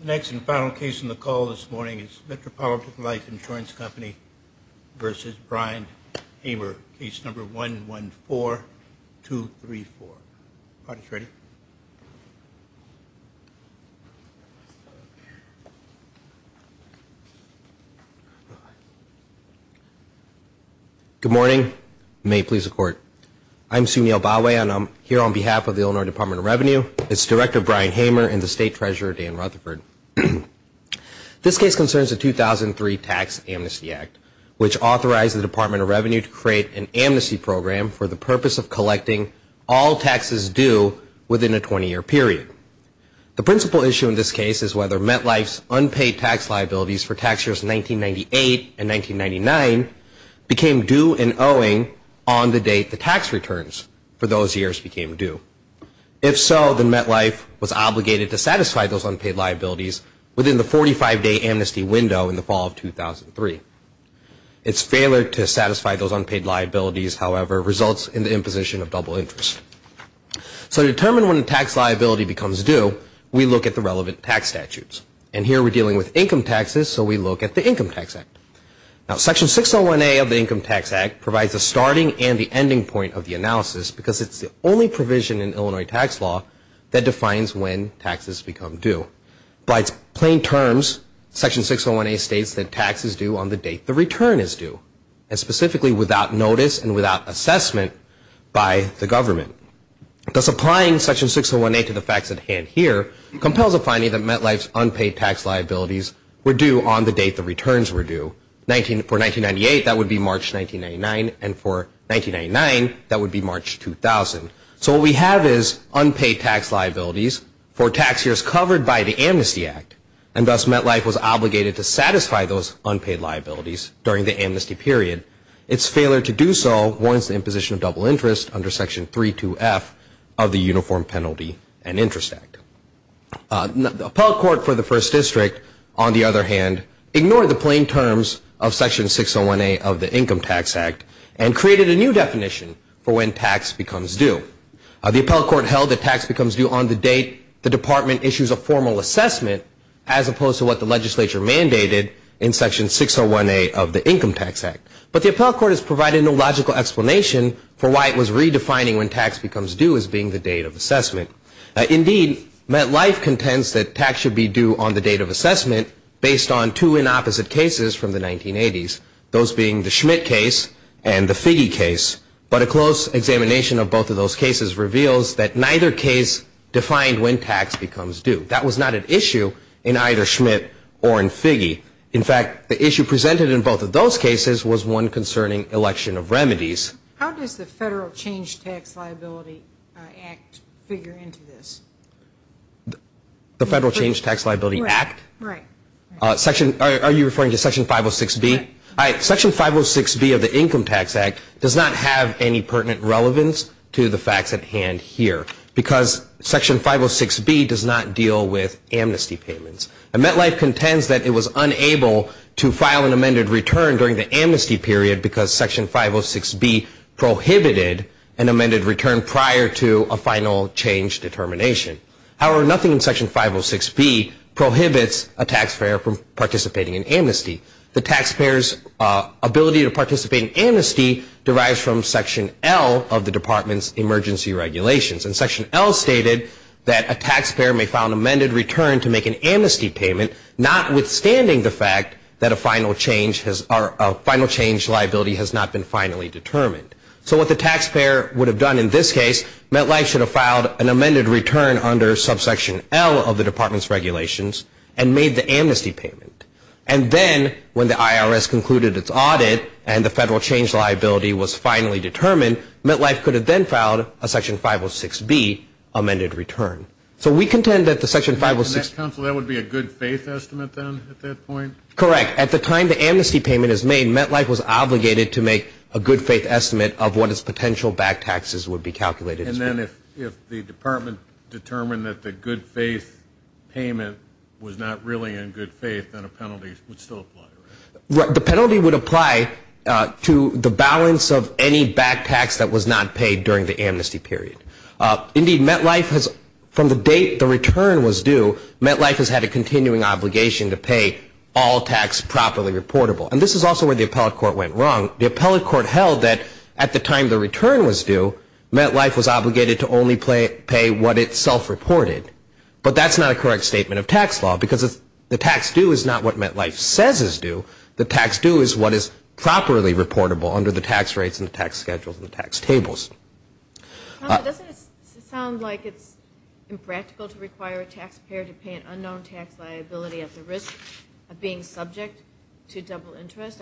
The next and final case on the call this morning is Metropolitan Life Insurance Company v. Brian Hamer, case number 114234. Good morning. May it please the Court. I'm Sunil Bawe and I'm here on behalf of the Illinois Department of Revenue. It's Director Brian Hamer and the State Treasurer Dan Rutherford. This case concerns the 2003 Tax Amnesty Act, which authorized the Department of Revenue to create an amnesty program for the purpose of collecting all taxes due within a 20-year period. The principal issue in this case is whether MetLife's unpaid tax liabilities for tax years 1998 and 1999 became due and owing on the date the tax returns for those years became due. If so, then MetLife was obligated to satisfy those unpaid liabilities within the 45-day amnesty window in the fall of 2003. Its failure to satisfy those unpaid liabilities, however, results in the imposition of double interest. So to determine when a tax liability becomes due, we look at the relevant tax statutes. And here we're dealing with income taxes, so we look at the Income Tax Act. Now, Section 601A of the Income Tax Act provides the starting and the ending point of the analysis because it's the only provision in Illinois tax law that defines when taxes become due. By its plain terms, Section 601A states that tax is due on the date the return is due, and specifically without notice and without assessment by the government. Thus, applying Section 601A to the facts at hand here compels a finding that MetLife's unpaid tax liabilities were due on the date the returns were due. For 1998, that would be March 1999, and for 1999, that would be March 2000. So what we have is unpaid tax liabilities for tax years covered by the Amnesty Act, and thus MetLife was obligated to satisfy those unpaid liabilities during the amnesty period. Its failure to do so warrants the imposition of double interest under Section 32F of the Uniform Penalty and Interest Act. The appellate court for the First District, on the other hand, ignored the plain terms of Section 601A of the Income Tax Act and created a new definition for when tax becomes due. The appellate court held that tax becomes due on the date the department issues a formal assessment as opposed to what the legislature mandated in Section 601A of the Income Tax Act. But the appellate court has provided no logical explanation for why it was redefining when tax becomes due as being the date of assessment. Indeed, MetLife contends that tax should be due on the date of assessment based on two inopposite cases from the 1980s, those being the Schmidt case and the Figge case, but a close examination of both of those cases reveals that neither case defined when tax becomes due. That was not an issue in either Schmidt or in Figge. In fact, the issue presented in both of those cases was one concerning election of remedies. How does the Federal Change Tax Liability Act figure into this? The Federal Change Tax Liability Act? Right. Are you referring to Section 506B? Section 506B of the Income Tax Act does not have any pertinent relevance to the facts at hand here because Section 506B does not deal with amnesty payments. And MetLife contends that it was unable to file an amended return during the amnesty period because Section 506B prohibited an amended return prior to a final change determination. However, nothing in Section 506B prohibits a taxpayer from participating in amnesty. The taxpayer's ability to participate in amnesty derives from Section L of the Department's Emergency Regulations. And Section L stated that a taxpayer may file an amended return to make an amnesty payment notwithstanding the fact that a final change liability has not been finally determined. So what the taxpayer would have done in this case, MetLife should have filed an amended return under Subsection L of the Department's Regulations and made the amnesty payment. And then when the IRS concluded its audit and the federal change liability was finally determined, MetLife could have then filed a Section 506B amended return. So we contend that the Section 506B Correct. At the time the amnesty payment is made, MetLife was obligated to make a good faith estimate of what its potential back taxes would be calculated. And then if the Department determined that the good faith payment was not really in good faith, then a penalty would still apply, right? The penalty would apply to the balance of any back tax that was not paid during the amnesty period. Indeed, MetLife has, from the date the return was due, MetLife has had a continuing obligation to pay all tax properly reportable. And this is also where the appellate court went wrong. The appellate court held that at the time the return was due, MetLife was obligated to only pay what it self-reported. But that's not a correct statement of tax law because the tax due is not what MetLife says is due. The tax due is what is properly reportable under the tax rates and the tax schedules and the tax tables. Doesn't it sound like it's impractical to require a taxpayer to pay an unknown tax liability at the risk of being subject to double interest?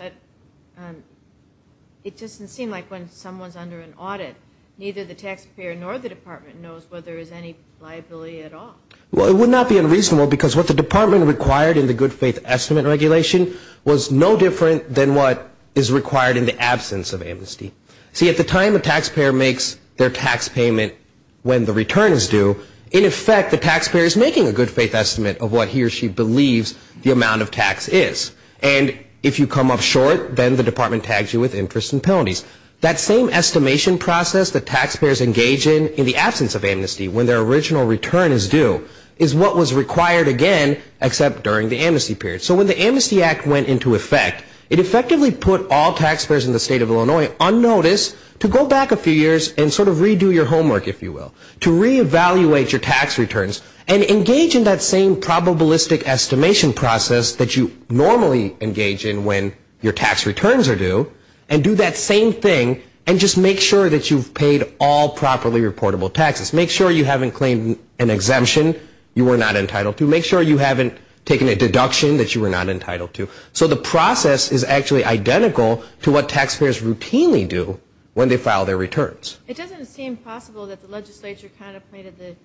It doesn't seem like when someone is under an audit, neither the taxpayer nor the Department knows whether there is any liability at all. Well, it would not be unreasonable because what the Department required in the good faith estimate regulation was no different than what is required in the absence of amnesty. See, at the time a taxpayer makes their tax payment when the return is due, in effect the taxpayer is making a good faith estimate of what he or she believes the amount of tax is. And if you come up short, then the Department tags you with interest and penalties. That same estimation process that taxpayers engage in in the absence of amnesty when their original return is due is what was required again except during the amnesty period. So when the Amnesty Act went into effect, it effectively put all taxpayers in the state of Illinois on notice to go back a few years and sort of redo your homework, if you will, to reevaluate your tax returns and engage in that same probabilistic estimation process that you normally engage in when your tax returns are due and do that same thing and just make sure that you've paid all properly reportable taxes. Make sure you haven't claimed an exemption you were not entitled to. Make sure you haven't taken a deduction that you were not entitled to. So the process is actually identical to what taxpayers routinely do when they file their returns. It doesn't seem possible that the legislature contemplated that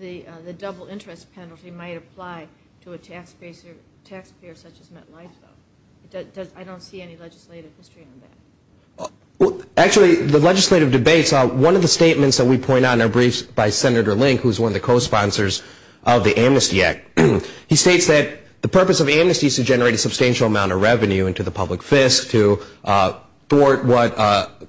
the double interest penalty might apply to a taxpayer such as MetLife, though. I don't see any legislative history on that. Actually, the legislative debates, one of the statements that we point out in our briefs by Senator Link, who is one of the co-sponsors of the Amnesty Act, he states that the purpose of the amnesty is to generate a substantial amount of revenue into the public fisc to thwart what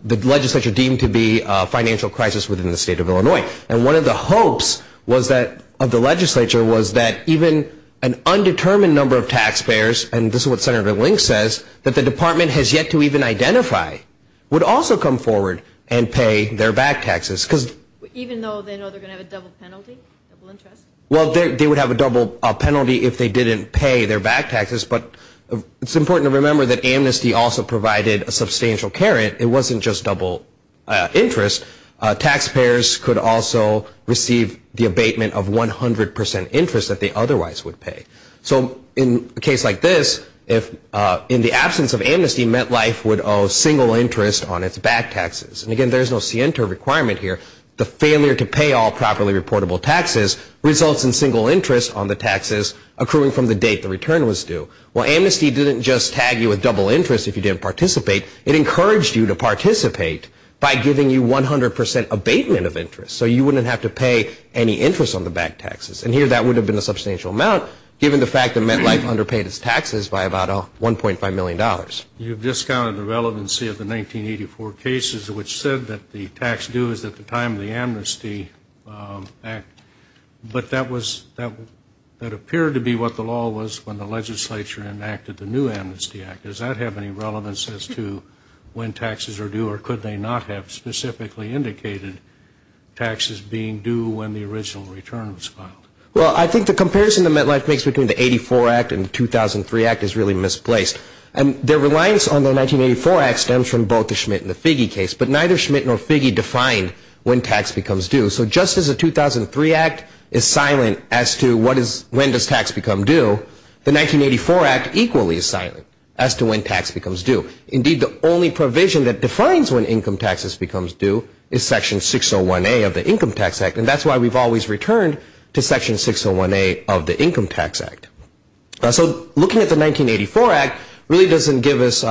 the legislature deemed to be a financial crisis within the state of Illinois. And one of the hopes of the legislature was that even an undetermined number of taxpayers, and this is what Senator Link says, that the department has yet to even identify, would also come forward and pay their back taxes. Even though they know they're going to have a double penalty, double interest? Well, they would have a double penalty if they didn't pay their back taxes, but it's important to remember that amnesty also provided a substantial care. It wasn't just double interest. Taxpayers could also receive the abatement of 100 percent interest that they otherwise would pay. So in a case like this, in the absence of amnesty, MetLife would owe single interest on its back taxes. And again, there's no scienter requirement here. The failure to pay all properly reportable taxes results in single interest on the taxes accruing from the date the return was due. Well, amnesty didn't just tag you with double interest if you didn't participate. It encouraged you to participate by giving you 100 percent abatement of interest, so you wouldn't have to pay any interest on the back taxes. And here that would have been a substantial amount, given the fact that MetLife underpaid its taxes by about $1.5 million. You've discounted the relevancy of the 1984 cases, which said that the tax due is at the time of the Amnesty Act, but that appeared to be what the law was when the legislature enacted the new Amnesty Act. Does that have any relevance as to when taxes are due, or could they not have specifically indicated taxes being due when the original return was filed? Well, I think the comparison that MetLife makes between the 84 Act and the 2003 Act is really misplaced. Their reliance on the 1984 Act stems from both the Schmidt and the Figge case, but neither Schmidt nor Figge defined when tax becomes due. So just as the 2003 Act is silent as to when does tax become due, the 1984 Act equally is silent as to when tax becomes due. Indeed, the only provision that defines when income taxes becomes due is Section 601A of the Income Tax Act, and that's why we've always returned to Section 601A of the Income Tax Act. So looking at the 1984 Act really doesn't give us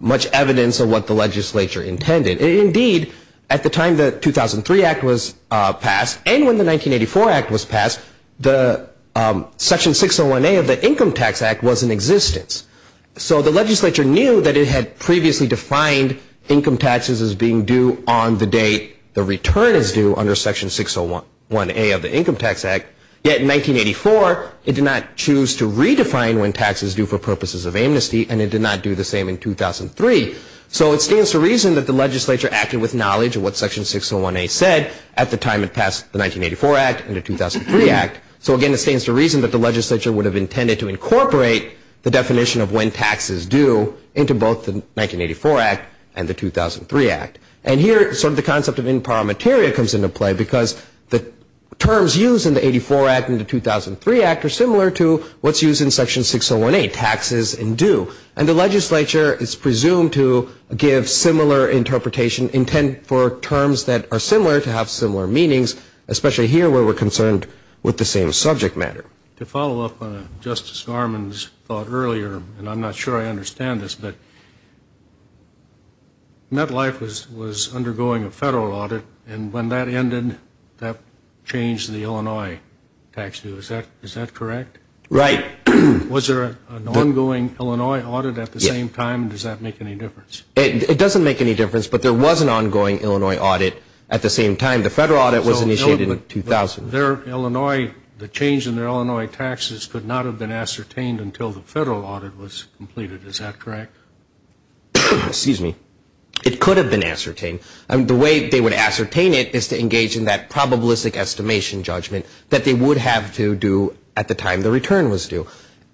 much evidence of what the legislature intended. Indeed, at the time the 2003 Act was passed, and when the 1984 Act was passed, the Section 601A of the Income Tax Act was in existence. So the legislature knew that it had previously defined income taxes as being due on the date the return is due under Section 601A of the Income Tax Act, yet in 1984 it did not choose to redefine when tax is due for purposes of amnesty, and it did not do the same in 2003. So it stands to reason that the legislature acted with knowledge of what Section 601A said at the time it passed the 1984 Act and the 2003 Act. So again, it stands to reason that the legislature would have intended to incorporate the definition of when tax is due into both the 1984 Act and the 2003 Act. And here sort of the concept of imparamateria comes into play because the terms used in the 84 Act and the 2003 Act are similar to what's used in Section 601A, taxes and due. And the legislature is presumed to give similar interpretation, intent for terms that are similar to have similar meanings, especially here where we're concerned with the same subject matter. To follow up on Justice Garmon's thought earlier, and I'm not sure I understand this, but MetLife was undergoing a federal audit, and when that ended, that changed the Illinois tax due. Is that correct? Right. Was there an ongoing Illinois audit at the same time? Does that make any difference? It doesn't make any difference, but there was an ongoing Illinois audit at the same time. The federal audit was initiated in 2000. Their Illinois, the change in their Illinois taxes could not have been ascertained Is that correct? Excuse me. It could have been ascertained. The way they would ascertain it is to engage in that probabilistic estimation judgment that they would have to do at the time the return was due.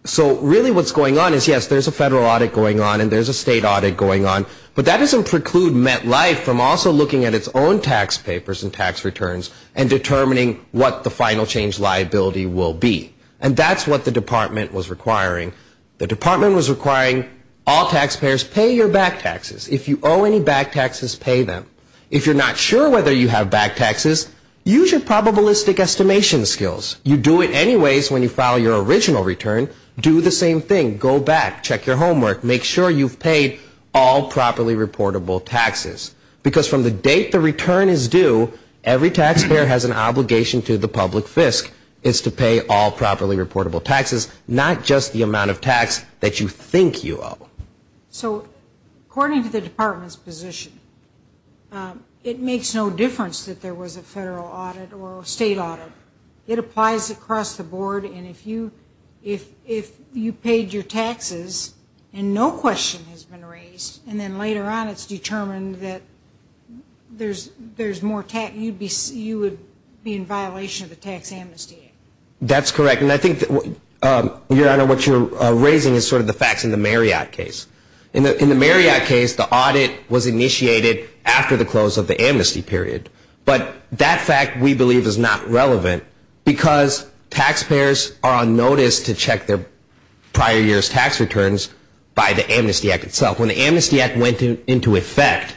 So really what's going on is, yes, there's a federal audit going on and there's a state audit going on, but that doesn't preclude MetLife from also looking at its own tax papers and tax returns and determining what the final change liability will be. And that's what the department was requiring. The department was requiring all taxpayers pay your back taxes. If you owe any back taxes, pay them. If you're not sure whether you have back taxes, use your probabilistic estimation skills. You do it anyways when you file your original return. Do the same thing. Go back. Check your homework. Make sure you've paid all properly reportable taxes, because from the date the return is due, every taxpayer has an obligation to the public FISC is to pay all properly reportable taxes, not just the amount of tax that you think you owe. So according to the department's position, it makes no difference that there was a federal audit or a state audit. It applies across the board, and if you paid your taxes and no question has been raised, and then later on it's determined that there's more tax, you would be in violation of the Tax Amnesty Act. That's correct, and I think, Your Honor, what you're raising is sort of the facts in the Marriott case. In the Marriott case, the audit was initiated after the close of the amnesty period, but that fact, we believe, is not relevant because taxpayers are on notice to check their prior year's tax returns by the Amnesty Act itself. When the Amnesty Act went into effect,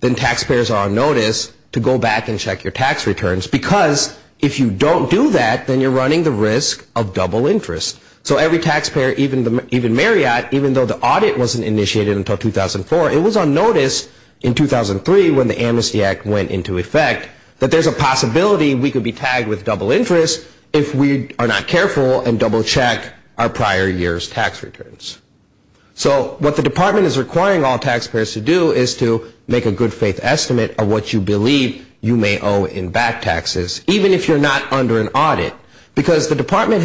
then taxpayers are on notice to go back and check your tax returns, because if you don't do that, then you're running the risk of double interest. So every taxpayer, even Marriott, even though the audit wasn't initiated until 2004, it was on notice in 2003 when the Amnesty Act went into effect, that there's a possibility we could be tagged with double interest if we are not careful and double check our prior year's tax returns. So what the department is requiring all taxpayers to do is to make a good faith estimate of what you believe you may owe in back taxes, even if you're not under an audit, because the department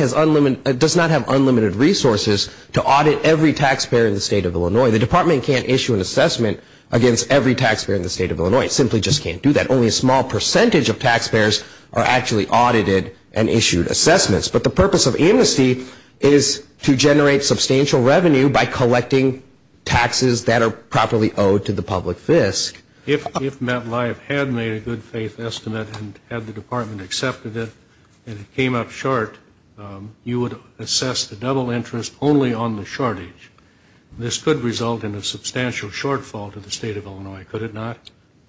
does not have unlimited resources to audit every taxpayer in the state of Illinois. The department can't issue an assessment against every taxpayer in the state of Illinois. It simply just can't do that. Only a small percentage of taxpayers are actually audited and issued assessments, but the purpose of amnesty is to generate substantial revenue by collecting taxes that are properly owed to the public fisc. If MetLife had made a good faith estimate and had the department accepted it and it came up short, you would assess the double interest only on the shortage. This could result in a substantial shortfall to the state of Illinois, could it not?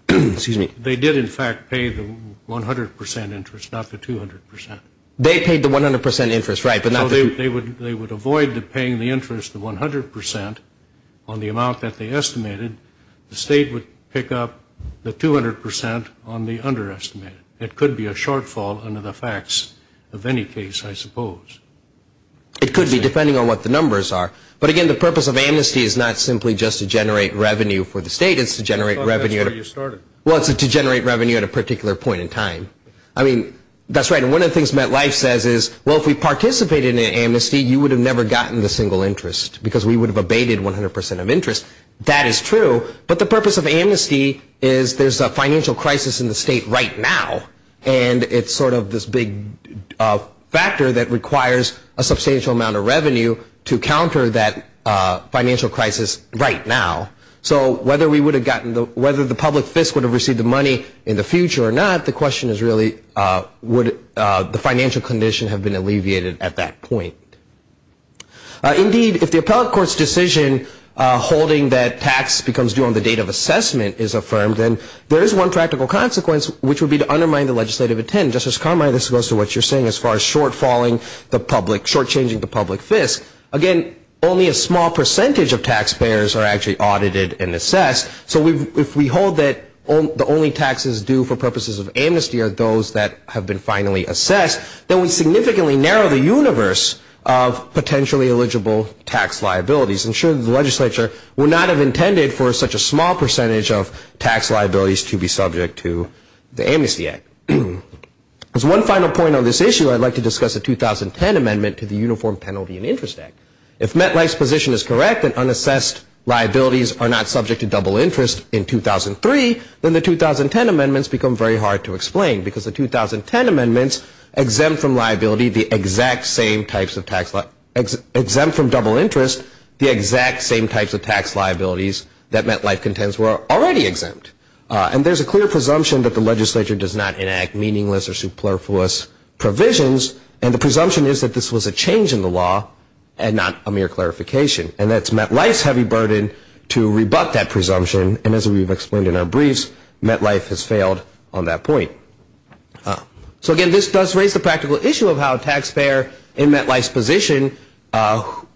They did, in fact, pay the 100% interest, not the 200%. They paid the 100% interest, right, but not the 200%. They would avoid paying the interest of 100% on the amount that they estimated. The state would pick up the 200% on the underestimated. It could be a shortfall under the facts of any case, I suppose. It could be, depending on what the numbers are. But, again, the purpose of amnesty is not simply just to generate revenue for the state. It's to generate revenue at a particular point in time. I mean, that's right, and one of the things MetLife says is, well, if we participated in an amnesty, you would have never gotten the single interest because we would have abated 100% of interest. That is true, but the purpose of amnesty is there's a financial crisis in the state right now, and it's sort of this big factor that requires a substantial amount of revenue to counter that financial crisis right now. So whether the public FISC would have received the money in the future or not, the question is really would the financial condition have been alleviated at that point. Indeed, if the appellate court's decision holding that tax becomes due on the date of assessment is affirmed, then there is one practical consequence, which would be to undermine the legislative intent. Justice Carmine, this goes to what you're saying as far as shortchanging the public FISC. Again, only a small percentage of taxpayers are actually audited and assessed. So if we hold that the only taxes due for purposes of amnesty are those that have been finally assessed, then we significantly narrow the universe of potentially eligible tax liabilities and ensure that the legislature would not have intended for such a small percentage of tax liabilities to be subject to the Amnesty Act. As one final point on this issue, I'd like to discuss the 2010 amendment to the Uniform Penalty and Interest Act. If Metlife's position is correct that unassessed liabilities are not subject to double interest in 2003, then the 2010 amendments become very hard to explain because the 2010 amendments exempt from double interest the exact same types of tax liabilities that Metlife contends were already exempt. And there's a clear presumption that the legislature does not enact meaningless or superfluous provisions, and the presumption is that this was a change in the law and not a mere clarification. And that's Metlife's heavy burden to rebut that presumption. And as we've explained in our briefs, Metlife has failed on that point. So again, this does raise the practical issue of how a taxpayer in Metlife's position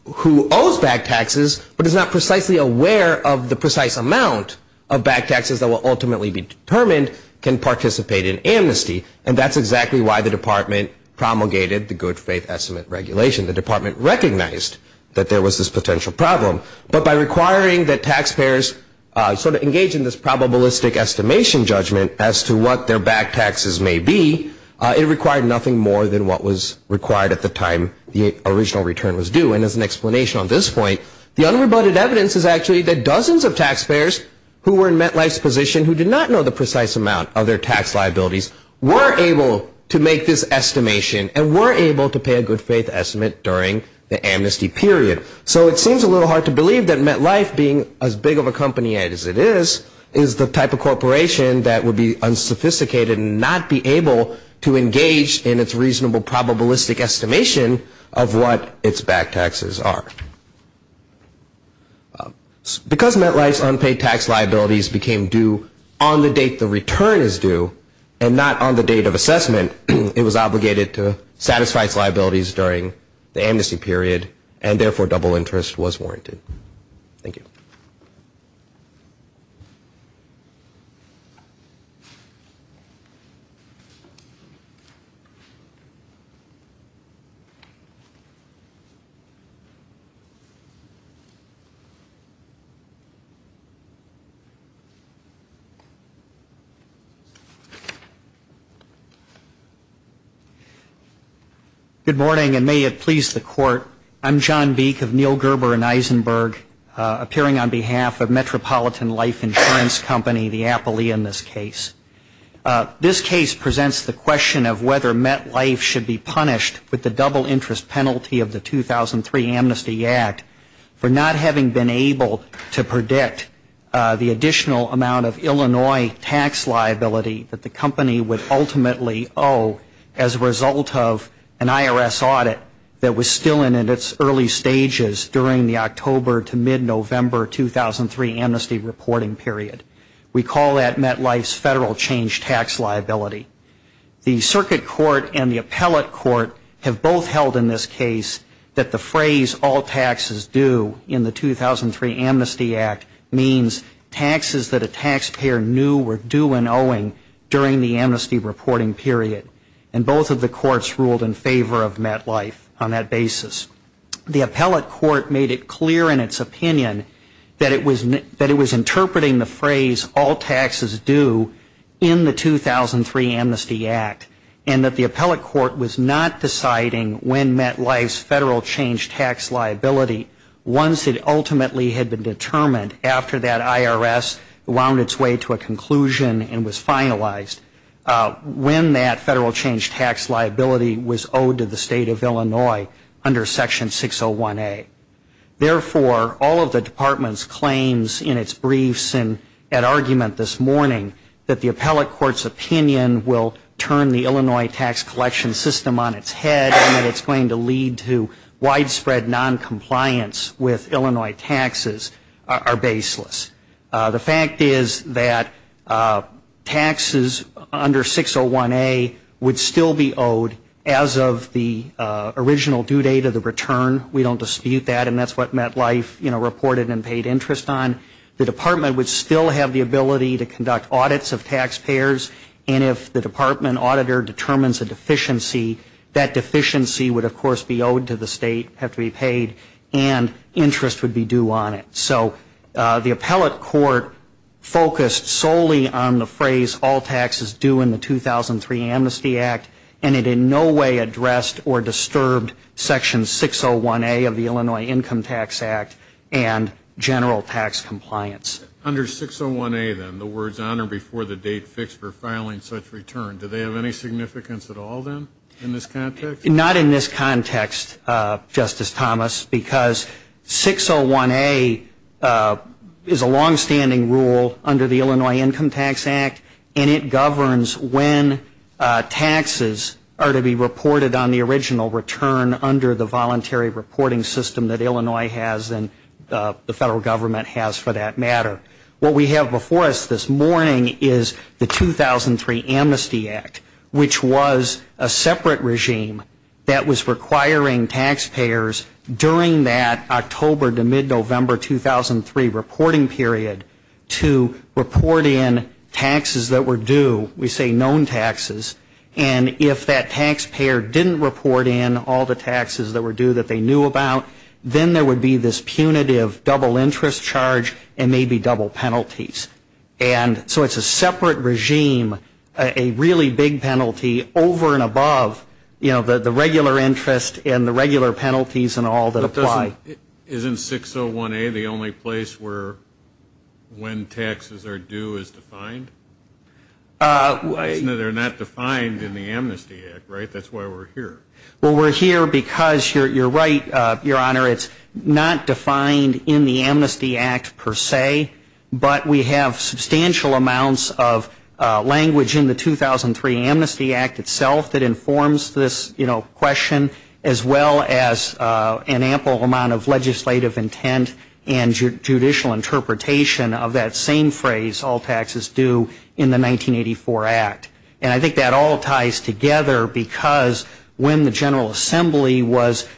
who owes back taxes but is not precisely aware of the precise amount of back taxes that will ultimately be determined can participate in amnesty. And that's exactly why the department promulgated the Good Faith Estimate Regulation. The department recognized that there was this potential problem, but by requiring that taxpayers sort of engage in this probabilistic estimation judgment as to what their back taxes may be, it required nothing more than what was required at the time the original return was due. And as an explanation on this point, the unrebutted evidence is actually that dozens of taxpayers who were in Metlife's position who did not know the precise amount of their tax liabilities were able to make this estimation and were able to pay a good faith estimate during the amnesty period. So it seems a little hard to believe that Metlife, being as big of a company as it is, is the type of corporation that would be unsophisticated and not be able to engage in its reasonable probabilistic estimation of what its back taxes are. Because Metlife's unpaid tax liabilities became due on the date the return is due and not on the date of assessment, it was obligated to satisfy its liabilities during the amnesty period and therefore double interest was warranted. Thank you. Good morning, and may it please the Court. I'm John Beek of Neal Gerber and Eisenberg, appearing on behalf of Metropolitan Life Insurance Company, the Applee in this case. This case presents the question of whether Metlife should be punished with the double interest penalty of the 2003 Amnesty Act for not having been able to predict the additional amount of Illinois tax liability that the company would ultimately owe as a result of an IRS audit that was still in its early stages during the October to mid-November 2003 amnesty reporting period. We call that Metlife's federal change tax liability. The circuit court and the appellate court have both held in this case that the phrase all taxes due in the 2003 Amnesty Act means taxes that a taxpayer knew were due and owing during the amnesty reporting period, and both of the courts ruled in favor of Metlife on that basis. The appellate court made it clear in its opinion that it was interpreting the phrase all taxes due in the 2003 Amnesty Act and that the appellate court was not deciding when Metlife's federal change tax liability, once it ultimately had been determined after that IRS wound its way to a conclusion and was finalized, when that federal change tax liability was owed to the state of Illinois under section 601A. Therefore, all of the department's claims in its briefs and at argument this morning that the appellate court's opinion will turn the Illinois tax collection system on its head and that it's going to lead to widespread noncompliance with Illinois taxes are baseless. The fact is that taxes under 601A would still be owed as of the original due date of the return. We don't dispute that, and that's what Metlife reported and paid interest on. The department would still have the ability to conduct audits of taxpayers, and if the department auditor determines a deficiency, that deficiency would, of course, be owed to the state, have to be paid, and interest would be due on it. So the appellate court focused solely on the phrase all taxes due in the 2003 Amnesty Act, and it in no way addressed or disturbed section 601A of the Illinois Income Tax Act and general tax compliance. Under 601A, then, the words honor before the date fixed for filing such return, do they have any significance at all, then, in this context? Not in this context, Justice Thomas, because 601A is a longstanding rule under the Illinois Income Tax Act, and it governs when taxes are to be reported on the original return under the voluntary reporting system that Illinois has and the federal government has for that matter. What we have before us this morning is the 2003 Amnesty Act, which was a separate regime that was requiring taxpayers during that October to mid-November 2003 reporting period to report in taxes that were due, we say known taxes, and if that taxpayer didn't report in all the taxes that were due that they knew about, then there would be this punitive double interest charge and maybe double penalties. And so it's a separate regime, a really big penalty over and above, you know, the regular interest and the regular penalties and all that apply. Isn't 601A the only place where when taxes are due is defined? They're not defined in the Amnesty Act, right? That's why we're here. Well, we're here because you're right, Your Honor, it's not defined in the Amnesty Act per se, but we have substantial amounts of language in the 2003 Amnesty Act itself that informs this, you know, question, as well as an ample amount of legislative intent and judicial interpretation of that same phrase, all taxes due in the 1984 Act. And I think that all ties together because when the General Assembly was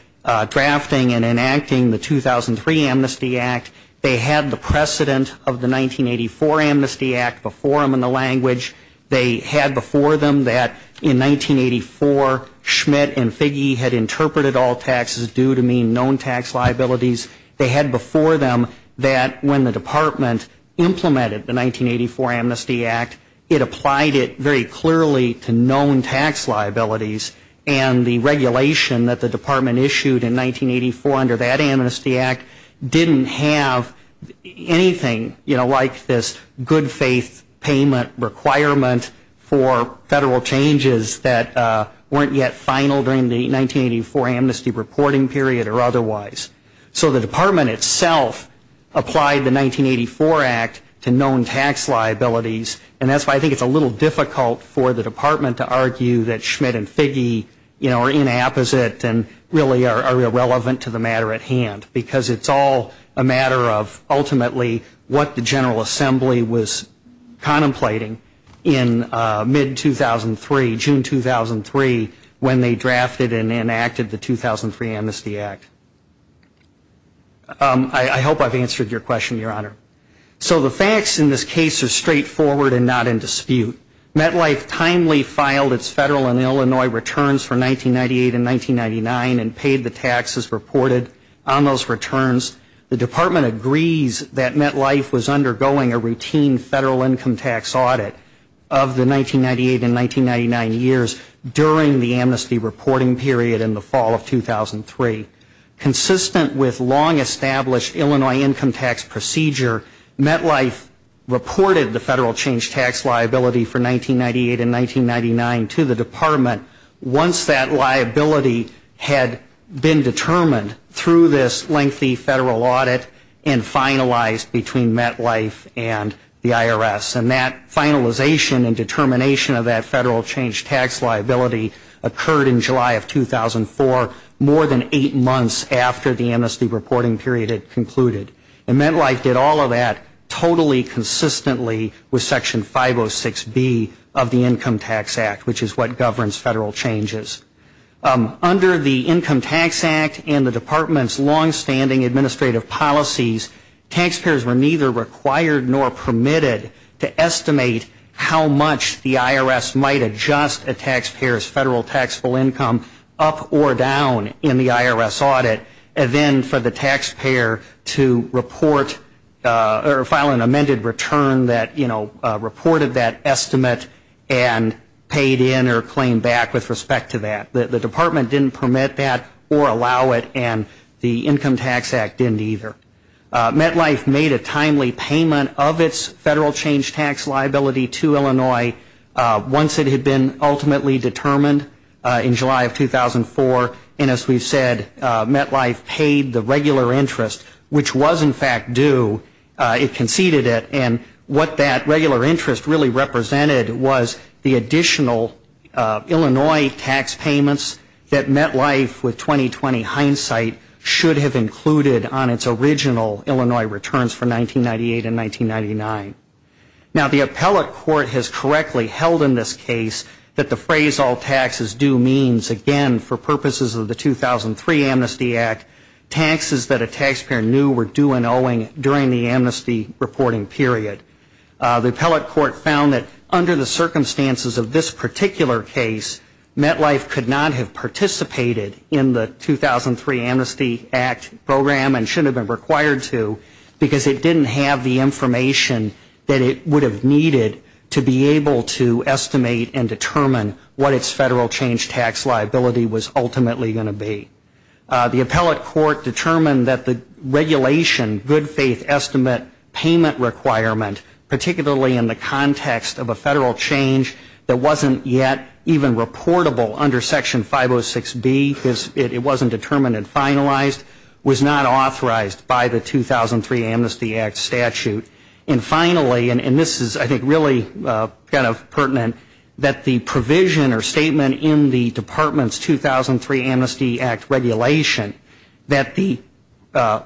drafting and enacting the 2003 Amnesty Act, they had the precedent of the 1984 Amnesty Act before them in the language, they had before them that in 1984 Schmidt and Figge had interpreted all taxes due to mean known tax liabilities. They had before them that when the department implemented the 1984 Amnesty Act, it applied it very clearly to known tax liabilities and the regulation that the department issued in 1984 under that Amnesty Act didn't have anything, you know, like this good faith payment requirement for federal changes that weren't yet final during the 1984 Amnesty reporting period or otherwise. So the department itself applied the 1984 Act to known tax liabilities and that's why I think it's a little difficult for the department to argue that Schmidt and Figge, you know, are inapposite and really are irrelevant to the matter at hand because it's all a matter of ultimately what the General Assembly was contemplating in mid-2003, when they drafted and enacted the 2003 Amnesty Act. I hope I've answered your question, Your Honor. So the facts in this case are straightforward and not in dispute. MetLife timely filed its federal and Illinois returns for 1998 and 1999 and paid the taxes reported on those returns. The department agrees that MetLife was undergoing a routine federal income tax audit of the 1998 and 1999 years during the Amnesty reporting period in the fall of 2003. Consistent with long-established Illinois income tax procedure, MetLife reported the federal change tax liability for 1998 and 1999 to the department once that liability had been determined through this lengthy federal audit and finalized between MetLife and the IRS. And that finalization and determination of that federal change tax liability occurred in July of 2004, more than eight months after the Amnesty reporting period had concluded. And MetLife did all of that totally consistently with Section 506B of the Income Tax Act, which is what governs federal changes. Under the Income Tax Act and the department's long-standing administrative policies, taxpayers were neither required nor permitted to estimate how much the IRS might adjust a taxpayer's federal taxable income up or down in the IRS audit and then for the taxpayer to report or file an amended return that, you know, reported that estimate and paid in or claimed back with respect to that. The department didn't permit that or allow it and the Income Tax Act didn't either. MetLife made a timely payment of its federal change tax liability to Illinois once it had been ultimately determined in July of 2004. And as we've said, MetLife paid the regular interest, which was in fact due. It conceded it. And what that regular interest really represented was the additional Illinois tax payments that MetLife with 20-20 hindsight should have included on its original Illinois returns from 1998 and 1999. Now, the appellate court has correctly held in this case that the phrase all taxes due means, again, for purposes of the 2003 Amnesty Act, taxes that a taxpayer knew were due and owing during the The appellate court found that under the circumstances of this particular case, MetLife could not have participated in the 2003 Amnesty Act program and should have been required to because it didn't have the information that it would have needed to be able to estimate and determine what its federal change tax liability was ultimately going to be. The appellate court determined that the regulation, good faith estimate payment requirement, particularly in the context of a federal change that wasn't yet even reportable under Section 506B, because it wasn't determined and finalized, was not authorized by the 2003 Amnesty Act statute. And finally, and this is I think really kind of pertinent, that the provision or statement in the department's 2003 Amnesty Act regulation that the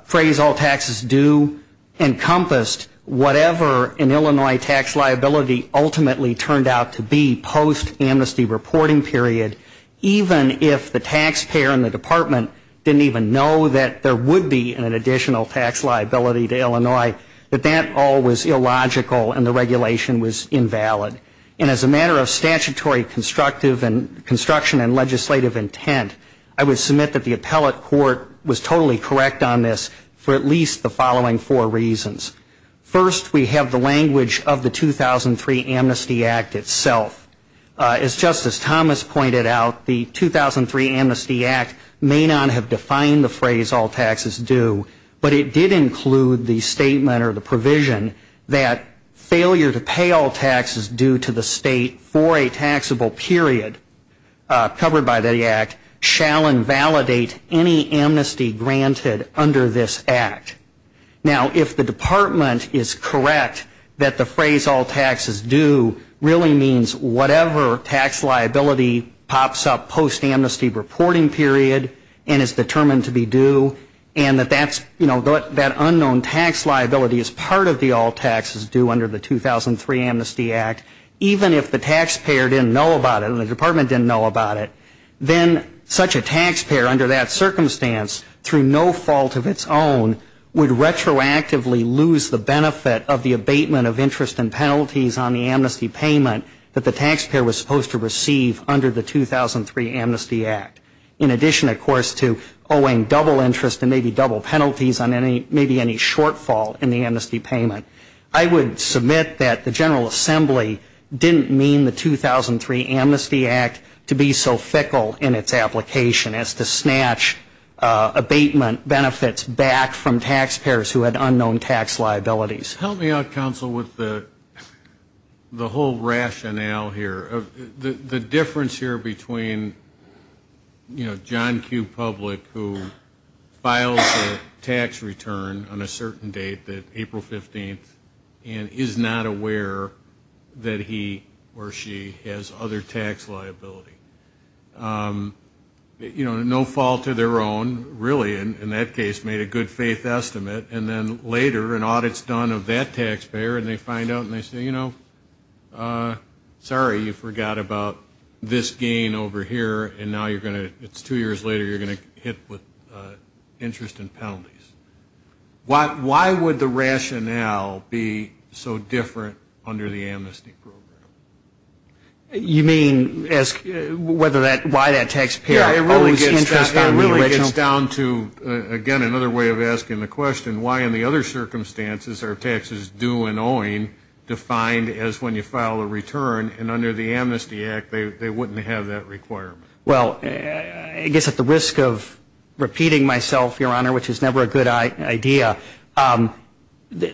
phrase all taxes due encompassed whatever in Illinois tax liability ultimately turned out to be post-amnesty reporting period, even if the taxpayer in the department didn't even know that there would be an additional tax liability to Illinois, that that all was illogical and the regulation was invalid. And as a matter of statutory constructive and construction and legislative intent, I would submit that the appellate court was totally correct on this for at least the following four reasons. First, we have the language of the 2003 Amnesty Act itself. As Justice Thomas pointed out, the 2003 Amnesty Act may not have defined the phrase all taxes due, but it did include the statement or the provision that failure to pay all taxes due to the state for a taxable period covered by the act shall invalidate any amnesty granted under this act. Now, if the department is correct that the phrase all taxes due really means whatever tax liability pops up post-amnesty reporting period and is determined to be due, and that that's, you know, that unknown tax liability is part of the all taxes due under the 2003 Amnesty Act, even if the taxpayer didn't know about it and the department didn't know about it, then such a taxpayer under that circumstance through no fault of its own would retroactively lose the benefit of the abatement of interest and penalties on the amnesty payment that the taxpayer was supposed to receive under the 2003 Amnesty Act. In addition, of course, to owing double interest and maybe double penalties on any, maybe any shortfall in the amnesty payment, I would submit that the General Assembly didn't mean the 2003 Amnesty Act to be so fickle in its application as to snatch abatement benefits back from taxpayers who had unknown tax liabilities. Help me out, counsel, with the whole rationale here. The difference here between, you know, John Q. Public who files a tax return on a certain date, April 15th, and is not aware that he or she has other tax liability. You know, no fault of their own, really in that case made a good faith estimate, and then later an audit's done of that taxpayer and they find out and they say, you know, sorry, you forgot about this gain over here, and now you're going to, it's two years later, you're going to hit with interest and penalties. Why would the rationale be so different under the amnesty program? You mean ask whether that, why that taxpayer owes interest on the original? It's down to, again, another way of asking the question, why in the other circumstances are taxes due and owing defined as when you file a return, and under the Amnesty Act, they wouldn't have that requirement. Well, I guess at the risk of repeating myself, Your Honor, which is never a good idea,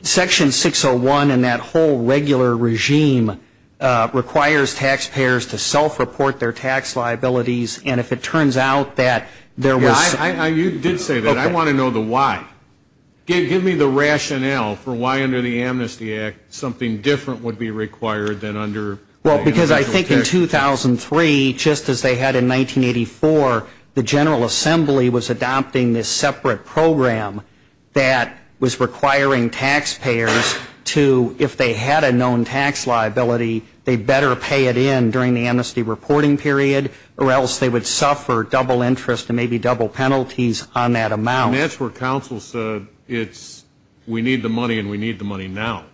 Section 601 and that whole regular regime requires taxpayers to self-report their tax liabilities, and if it turns out that there was... You did say that. I want to know the why. Give me the rationale for why under the Amnesty Act something different would be required than under... Well, because I think in 2003, just as they had in 1984, the General Assembly was adopting this separate program that was requiring taxpayers to, if they had a known tax liability, they better pay it in during the amnesty reporting period, or else they would suffer double interest and maybe double penalty. And that's where counsel said, it's, we need the money and we need the money now.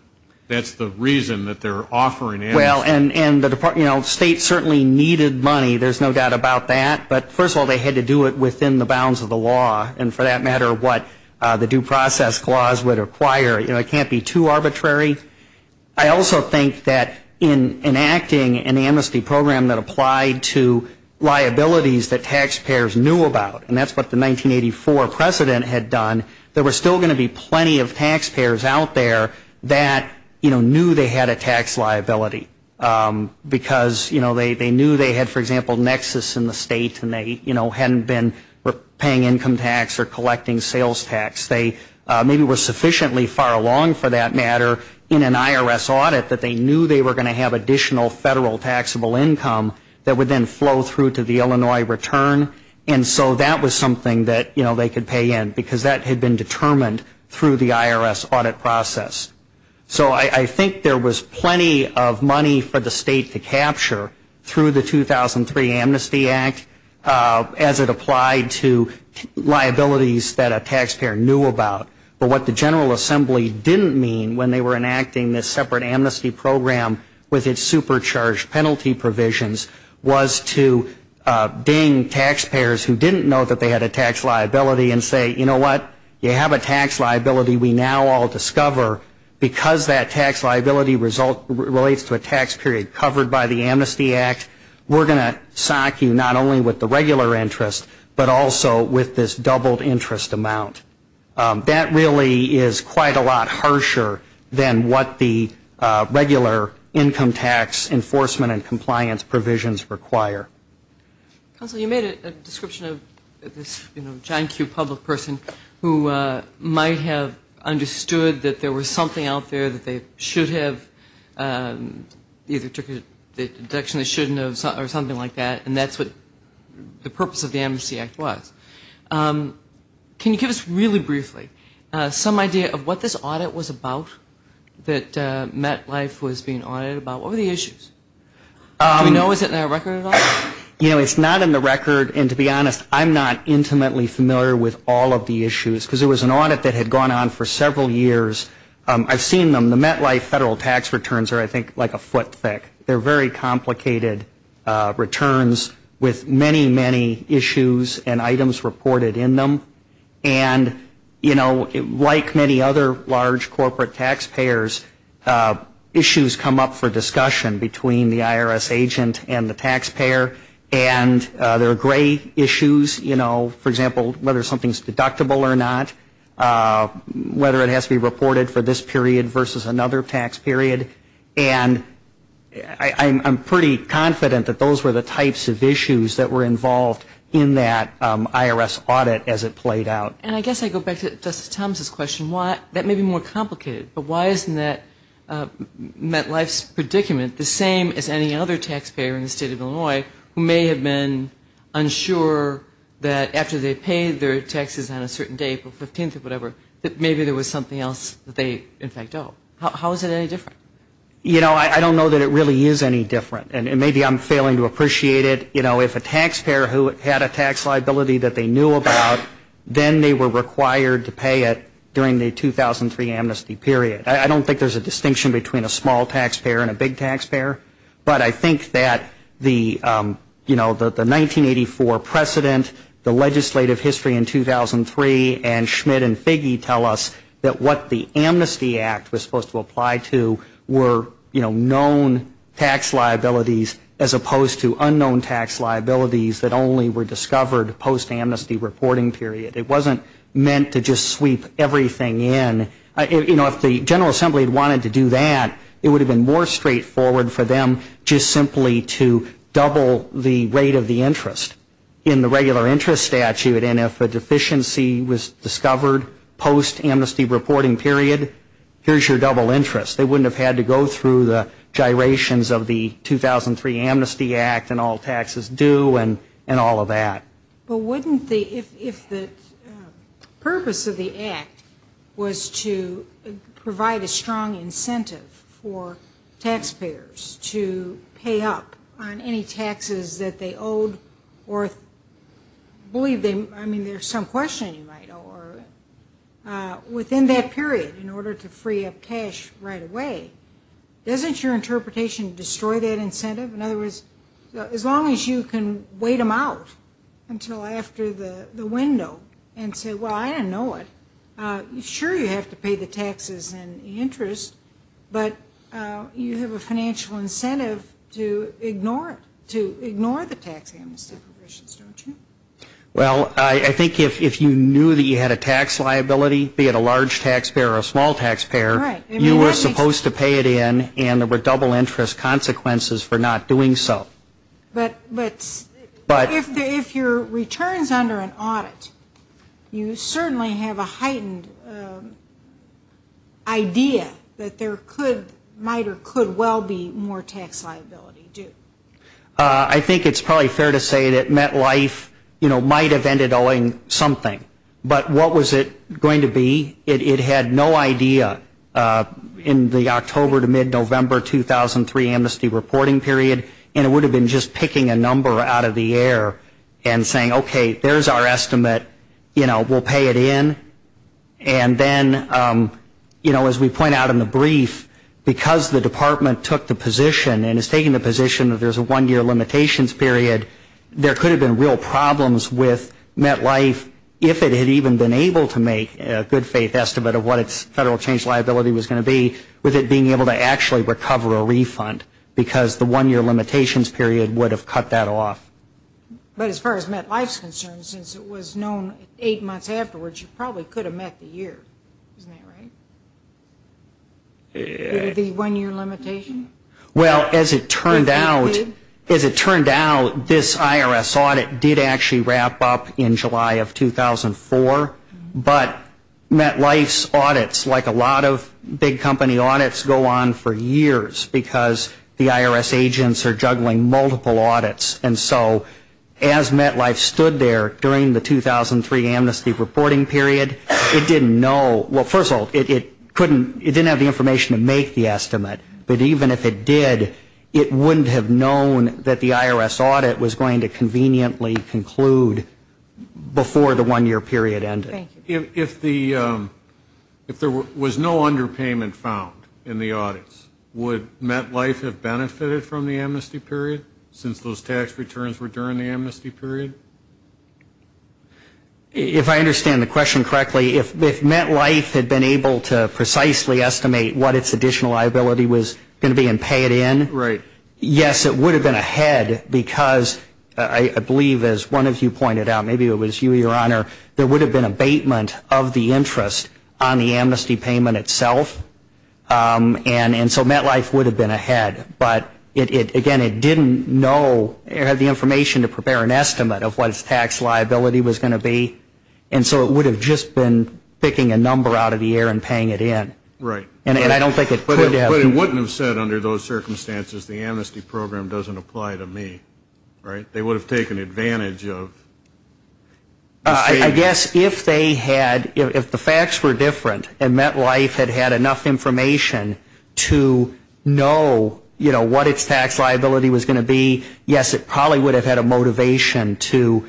That's the reason that they're offering amnesty. Well, and the State certainly needed money, there's no doubt about that, but first of all, they had to do it within the bounds of the law, and for that matter, what the due process clause would require. It can't be too arbitrary. I also think that in enacting an amnesty program that applied to liabilities that taxpayers knew about, and that's what the 1903 Act was about. And what the 1984 precedent had done, there were still going to be plenty of taxpayers out there that, you know, knew they had a tax liability. Because, you know, they knew they had, for example, nexus in the state and they, you know, hadn't been paying income tax or collecting sales tax. They maybe were sufficiently far along, for that matter, in an IRS audit that they knew they were going to have additional federal taxable income that would then flow through to the Illinois return. And so that was something that, you know, they could pay in, because that had been determined through the IRS audit process. So I think there was plenty of money for the State to capture through the 2003 Amnesty Act as it applied to liabilities that a taxpayer knew about. But what the General Assembly didn't mean when they were enacting this separate amnesty program with its supercharged penalty provisions was to ding taxpayers who didn't know that they had a tax liability and say, you know what, you have a tax liability we now all discover. Because that tax liability relates to a tax period covered by the Amnesty Act, we're going to sock you not only with the regular interest, but also with this doubled interest amount. That really is quite a lot harsher than what the regular income tax enforcement and compliance provisions require. Counsel, you made a description of this, you know, John Q. public person who might have understood that there was something out there that they should have either took a deduction they shouldn't have or something like that, and that's what the purpose of the Amnesty Act was. Can you give us really briefly some idea of what this audit was about that MetLife was being audited about? What were the issues? Do we know? Is it in our record at all? You know, it's not in the record, and to be honest, I'm not intimately familiar with all of the issues, because it was an audit that had gone on for several years. I've seen them. The MetLife federal tax returns are, I think, like a foot thick. They're very complicated returns with many, many issues and items reported in them. And, you know, like many other large corporate taxpayers, issues come up for discussion between the IRS agent and the taxpayer. And there are gray issues, you know, for example, whether something's deductible or not, whether it has to be reported for this period versus another tax period. And I'm pretty confident that those were the types of issues that were involved in that IRS audit as it played out. And I guess I go back to Justice Thomas' question. That may be more complicated, but why isn't that MetLife's predicament the same as any other taxpayer in the state of Illinois who may have been involved in a tax audit? Who may have been unsure that after they paid their taxes on a certain date, April 15th or whatever, that maybe there was something else that they, in fact, owe. How is it any different? You know, I don't know that it really is any different, and maybe I'm failing to appreciate it. You know, if a taxpayer who had a tax liability that they knew about, then they were required to pay it during the 2003 amnesty period. I don't think there's a distinction between a small taxpayer and a big taxpayer, but I think that the tax liability was different, and I don't think there was a distinction. You know, the 1984 precedent, the legislative history in 2003, and Schmidt and Figge tell us that what the Amnesty Act was supposed to apply to were, you know, known tax liabilities as opposed to unknown tax liabilities that only were discovered post-amnesty reporting period. It wasn't meant to just sweep everything in. You know, if the General Assembly had wanted to do that, it would have been more straightforward for them just simply to double the rate of the interest in the regular interest statute, and if a deficiency was discovered post-amnesty reporting period, here's your double interest. They wouldn't have had to go through the gyrations of the 2003 Amnesty Act and all taxes due and all of that. But wouldn't the, if the purpose of the act was to provide a strong incentive for taxpayers to pay up on any taxes that they owed or believe they, I mean, there's some question you might owe, or within that period in order to free up cash right away, doesn't your interpretation destroy that incentive? In other words, as long as you can wait them out until after the window and say, well, I didn't know it, sure, you have to pay the taxes and interest, but you have a financial incentive to ignore it, to ignore the tax amnesty provisions, don't you? Well, I think if you knew that you had a tax liability, be it a large taxpayer or a small taxpayer, you were supposed to pay it in, and there were double interest consequences for not doing so. But if your return is under an audit, you certainly have a heightened idea that there could, might or could well be more tax liability due. I think it's probably fair to say that MetLife, you know, might have ended owing something, but what was it going to be? It had no idea in the October to mid-November 2003 amnesty reporting period, and it would have been just picking a number out of the air and saying, okay, there's our estimate, you know, we'll pay it in. And then, you know, as we point out in the brief, because the department took the position and is taking the position that there's a one-year limitations period, there could have been real problems with MetLife, if it had even been able to make a good faith estimate of what its federal change liability was going to be, with it being able to actually recover a refund, because the one-year limitations period would have cut that off. But as far as MetLife is concerned, since it was known eight months afterwards, you probably could have met the year. Isn't that right? The one-year limitation? Well, as it turned out, as it turned out, this IRS audit did actually wrap up in July of 2004, but MetLife's audits, like a lot of big company audits, go on for years, because the IRS agents are juggling multiple audits, and so as MetLife stood there during the 2003 amnesty reporting period, it didn't know, well, first of all, it didn't have the information to make the estimate, but even if it did, it wouldn't have known that the IRS audit was going to conveniently conclude before the one-year period ended. If there was no underpayment found in the audits, would MetLife have benefited from the amnesty period, since those tax returns were during the amnesty period? If I understand the question correctly, if MetLife had been able to precisely estimate what its additional liability was going to be and pay it in, yes, it would have been ahead, because I believe, as one of you pointed out, maybe it was you, Your Honor, there would have been a baseline of what the amnesty was going to be. It would have been a statement of the interest on the amnesty payment itself, and so MetLife would have been ahead, but, again, it didn't know or have the information to prepare an estimate of what its tax liability was going to be, and so it would have just been picking a number out of the air and paying it in, and I don't think it could have. But it wouldn't have said, under those circumstances, the amnesty program doesn't apply to me, right? They would have taken advantage of the state. I guess if they had, if the facts were different and MetLife had had enough information to know, you know, what its tax liability was going to be, yes, it probably would have had a motivation to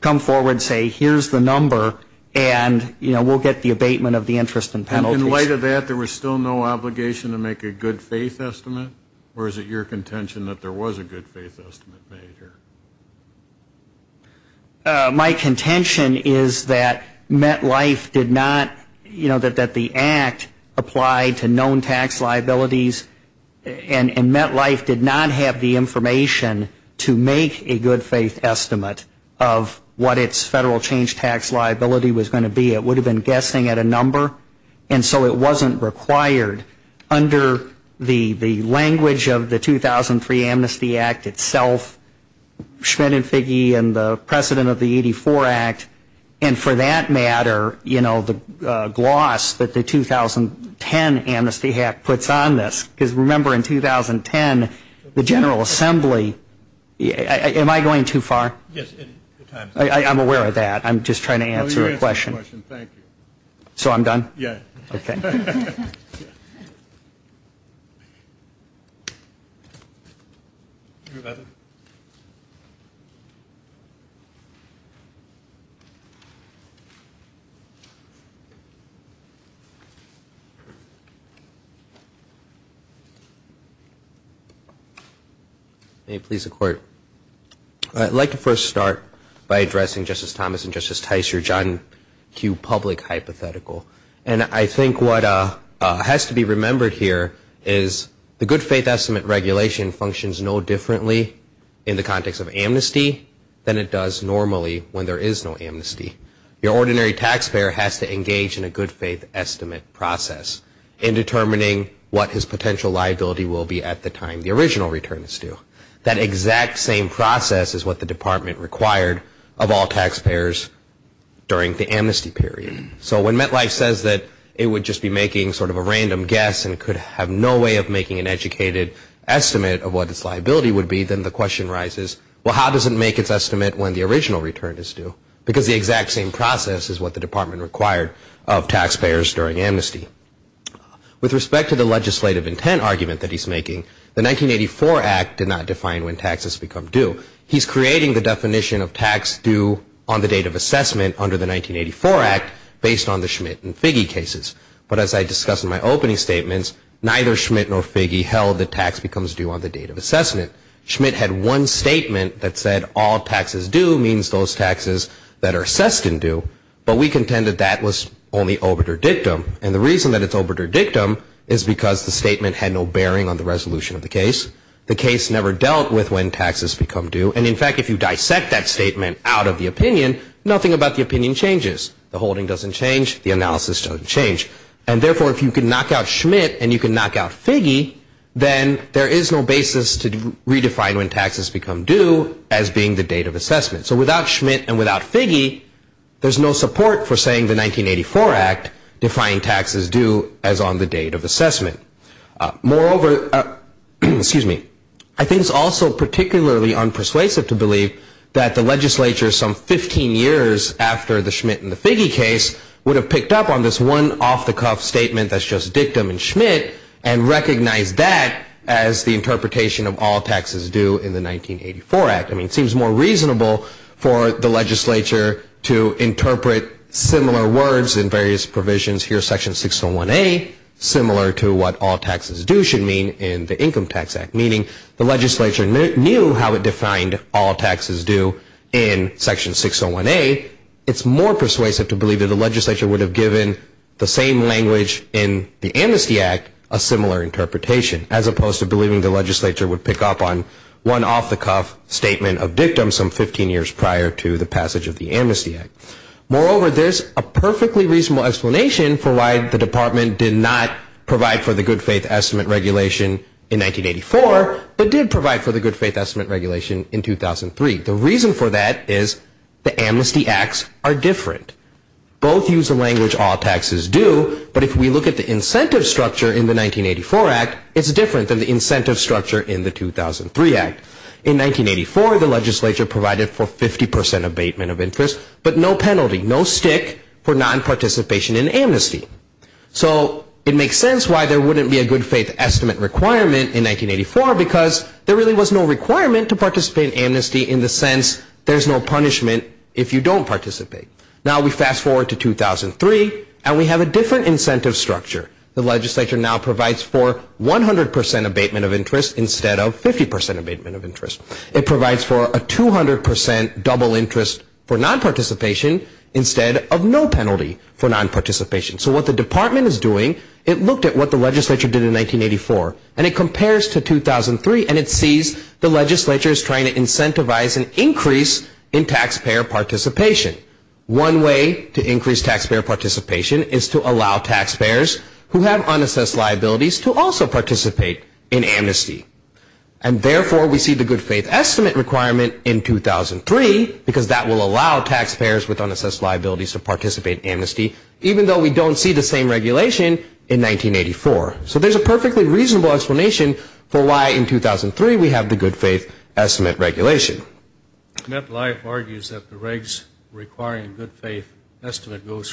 come forward and say, here's the number, and, you know, we'll get the abatement of the interest and penalties. In light of that, there was still no obligation to make a good faith estimate, or is it your contention that there was a good faith estimate made here? My contention is that MetLife did not, you know, that the act applied to known tax liabilities, and MetLife did not have the information to make a good faith estimate of what its federal change tax liability was going to be. It would have been guessing at a number, and so it wasn't required. Under the language of the 2003 Amnesty Act itself, Schmidt and Figge and the precedent of the 84 Act, and for that matter, you know, the gloss that the 2010 Amnesty Act puts on this, because remember, in 2010, the General Assembly, am I going too far? Yes. I'm aware of that. I'm just trying to answer a question. Thank you. So I'm done? Yes. Okay. Thank you. May it please the Court. Thank you. Thank you. Thank you. Thank you. Thank you. Thank you. Thank you. Thank you. Thank you. Thank you. Thank you. Thank you. With respect to the argument that the Amnesty Act states that failure to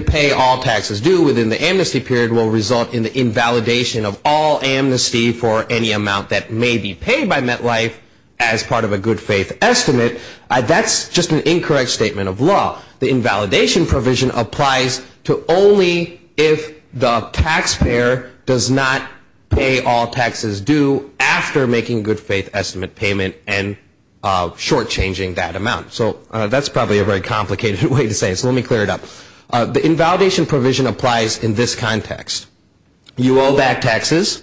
pay all taxes due within the amnesty period will result in the invalidation of all amnesty for any amount that may be paid by MetLife as part of a good faith estimate, that's just an incorrect statement of law. The invalidation provision applies to only if the taxpayer does not pay all taxes due after making a good faith estimate payment, and that is not the case. The invalidation provision applies in this context. You owe back taxes,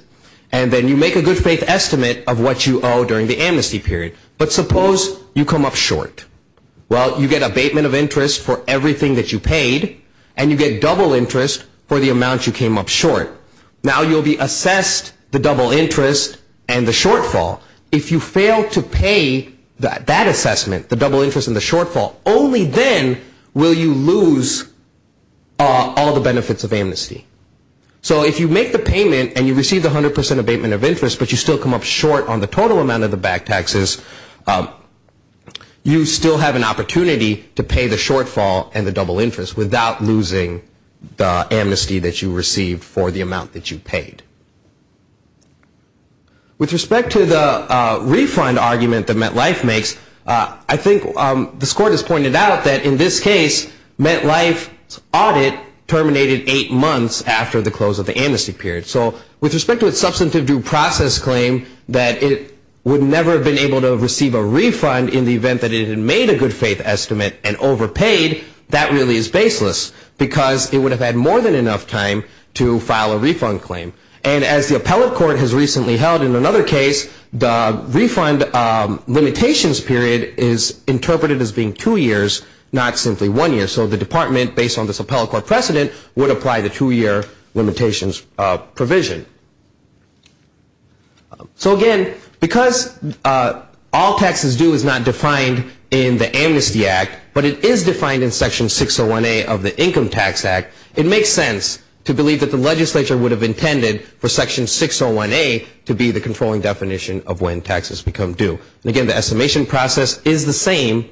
and then you make a good faith estimate of what you owe during the amnesty period. But suppose you come up short. Well, you get abatement of interest for everything that you paid, and you get double interest for the amount you came up short. Now you'll be assessed the double interest and the shortfall. If you fail to pay that assessment, the double interest and the shortfall, only then will you lose all the benefits of amnesty. So if you make the payment and you receive the 100 percent abatement of interest but you still come up short on the total amount of the back taxes, you still have an opportunity to pay the shortfall and the double interest without losing the amnesty that you received for the amount that you came up short. With respect to the refund argument that MetLife makes, I think the score just pointed out that in this case, MetLife's audit terminated eight months after the close of the amnesty period. So with respect to its substantive due process claim that it would never have been able to receive a refund in the event that it had made a good faith estimate and overpaid, that really is baseless. Because it would have had more than enough time to file a refund claim. And as the appellate court has recently held in another case, the refund limitations period is interpreted as being two years, not simply one year. So the department, based on this appellate court precedent, would apply the two-year limitations provision. So again, because all taxes due is not defined in the Amnesty Act, but it is defined in Section 601A of the Income Tax Act, it makes sense to believe that the legislature would have intended for Section 601A to be the controlling definition of when taxes become due. And again, the estimation process is the same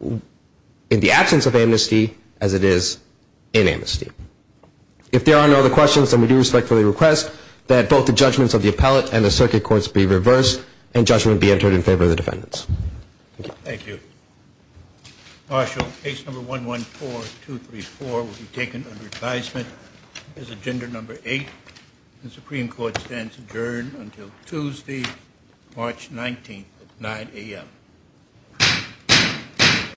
in the absence of amnesty as it is in amnesty. If there are no other questions, then we do respectfully request that both the judgments of the appellate and the circuit courts be reversed and judgment be entered in favor of the defendants. Thank you. Marshal, case number 114234 will be taken under advisement as agenda number eight. The Supreme Court stands adjourned until Tuesday, March 19th at 9 a.m.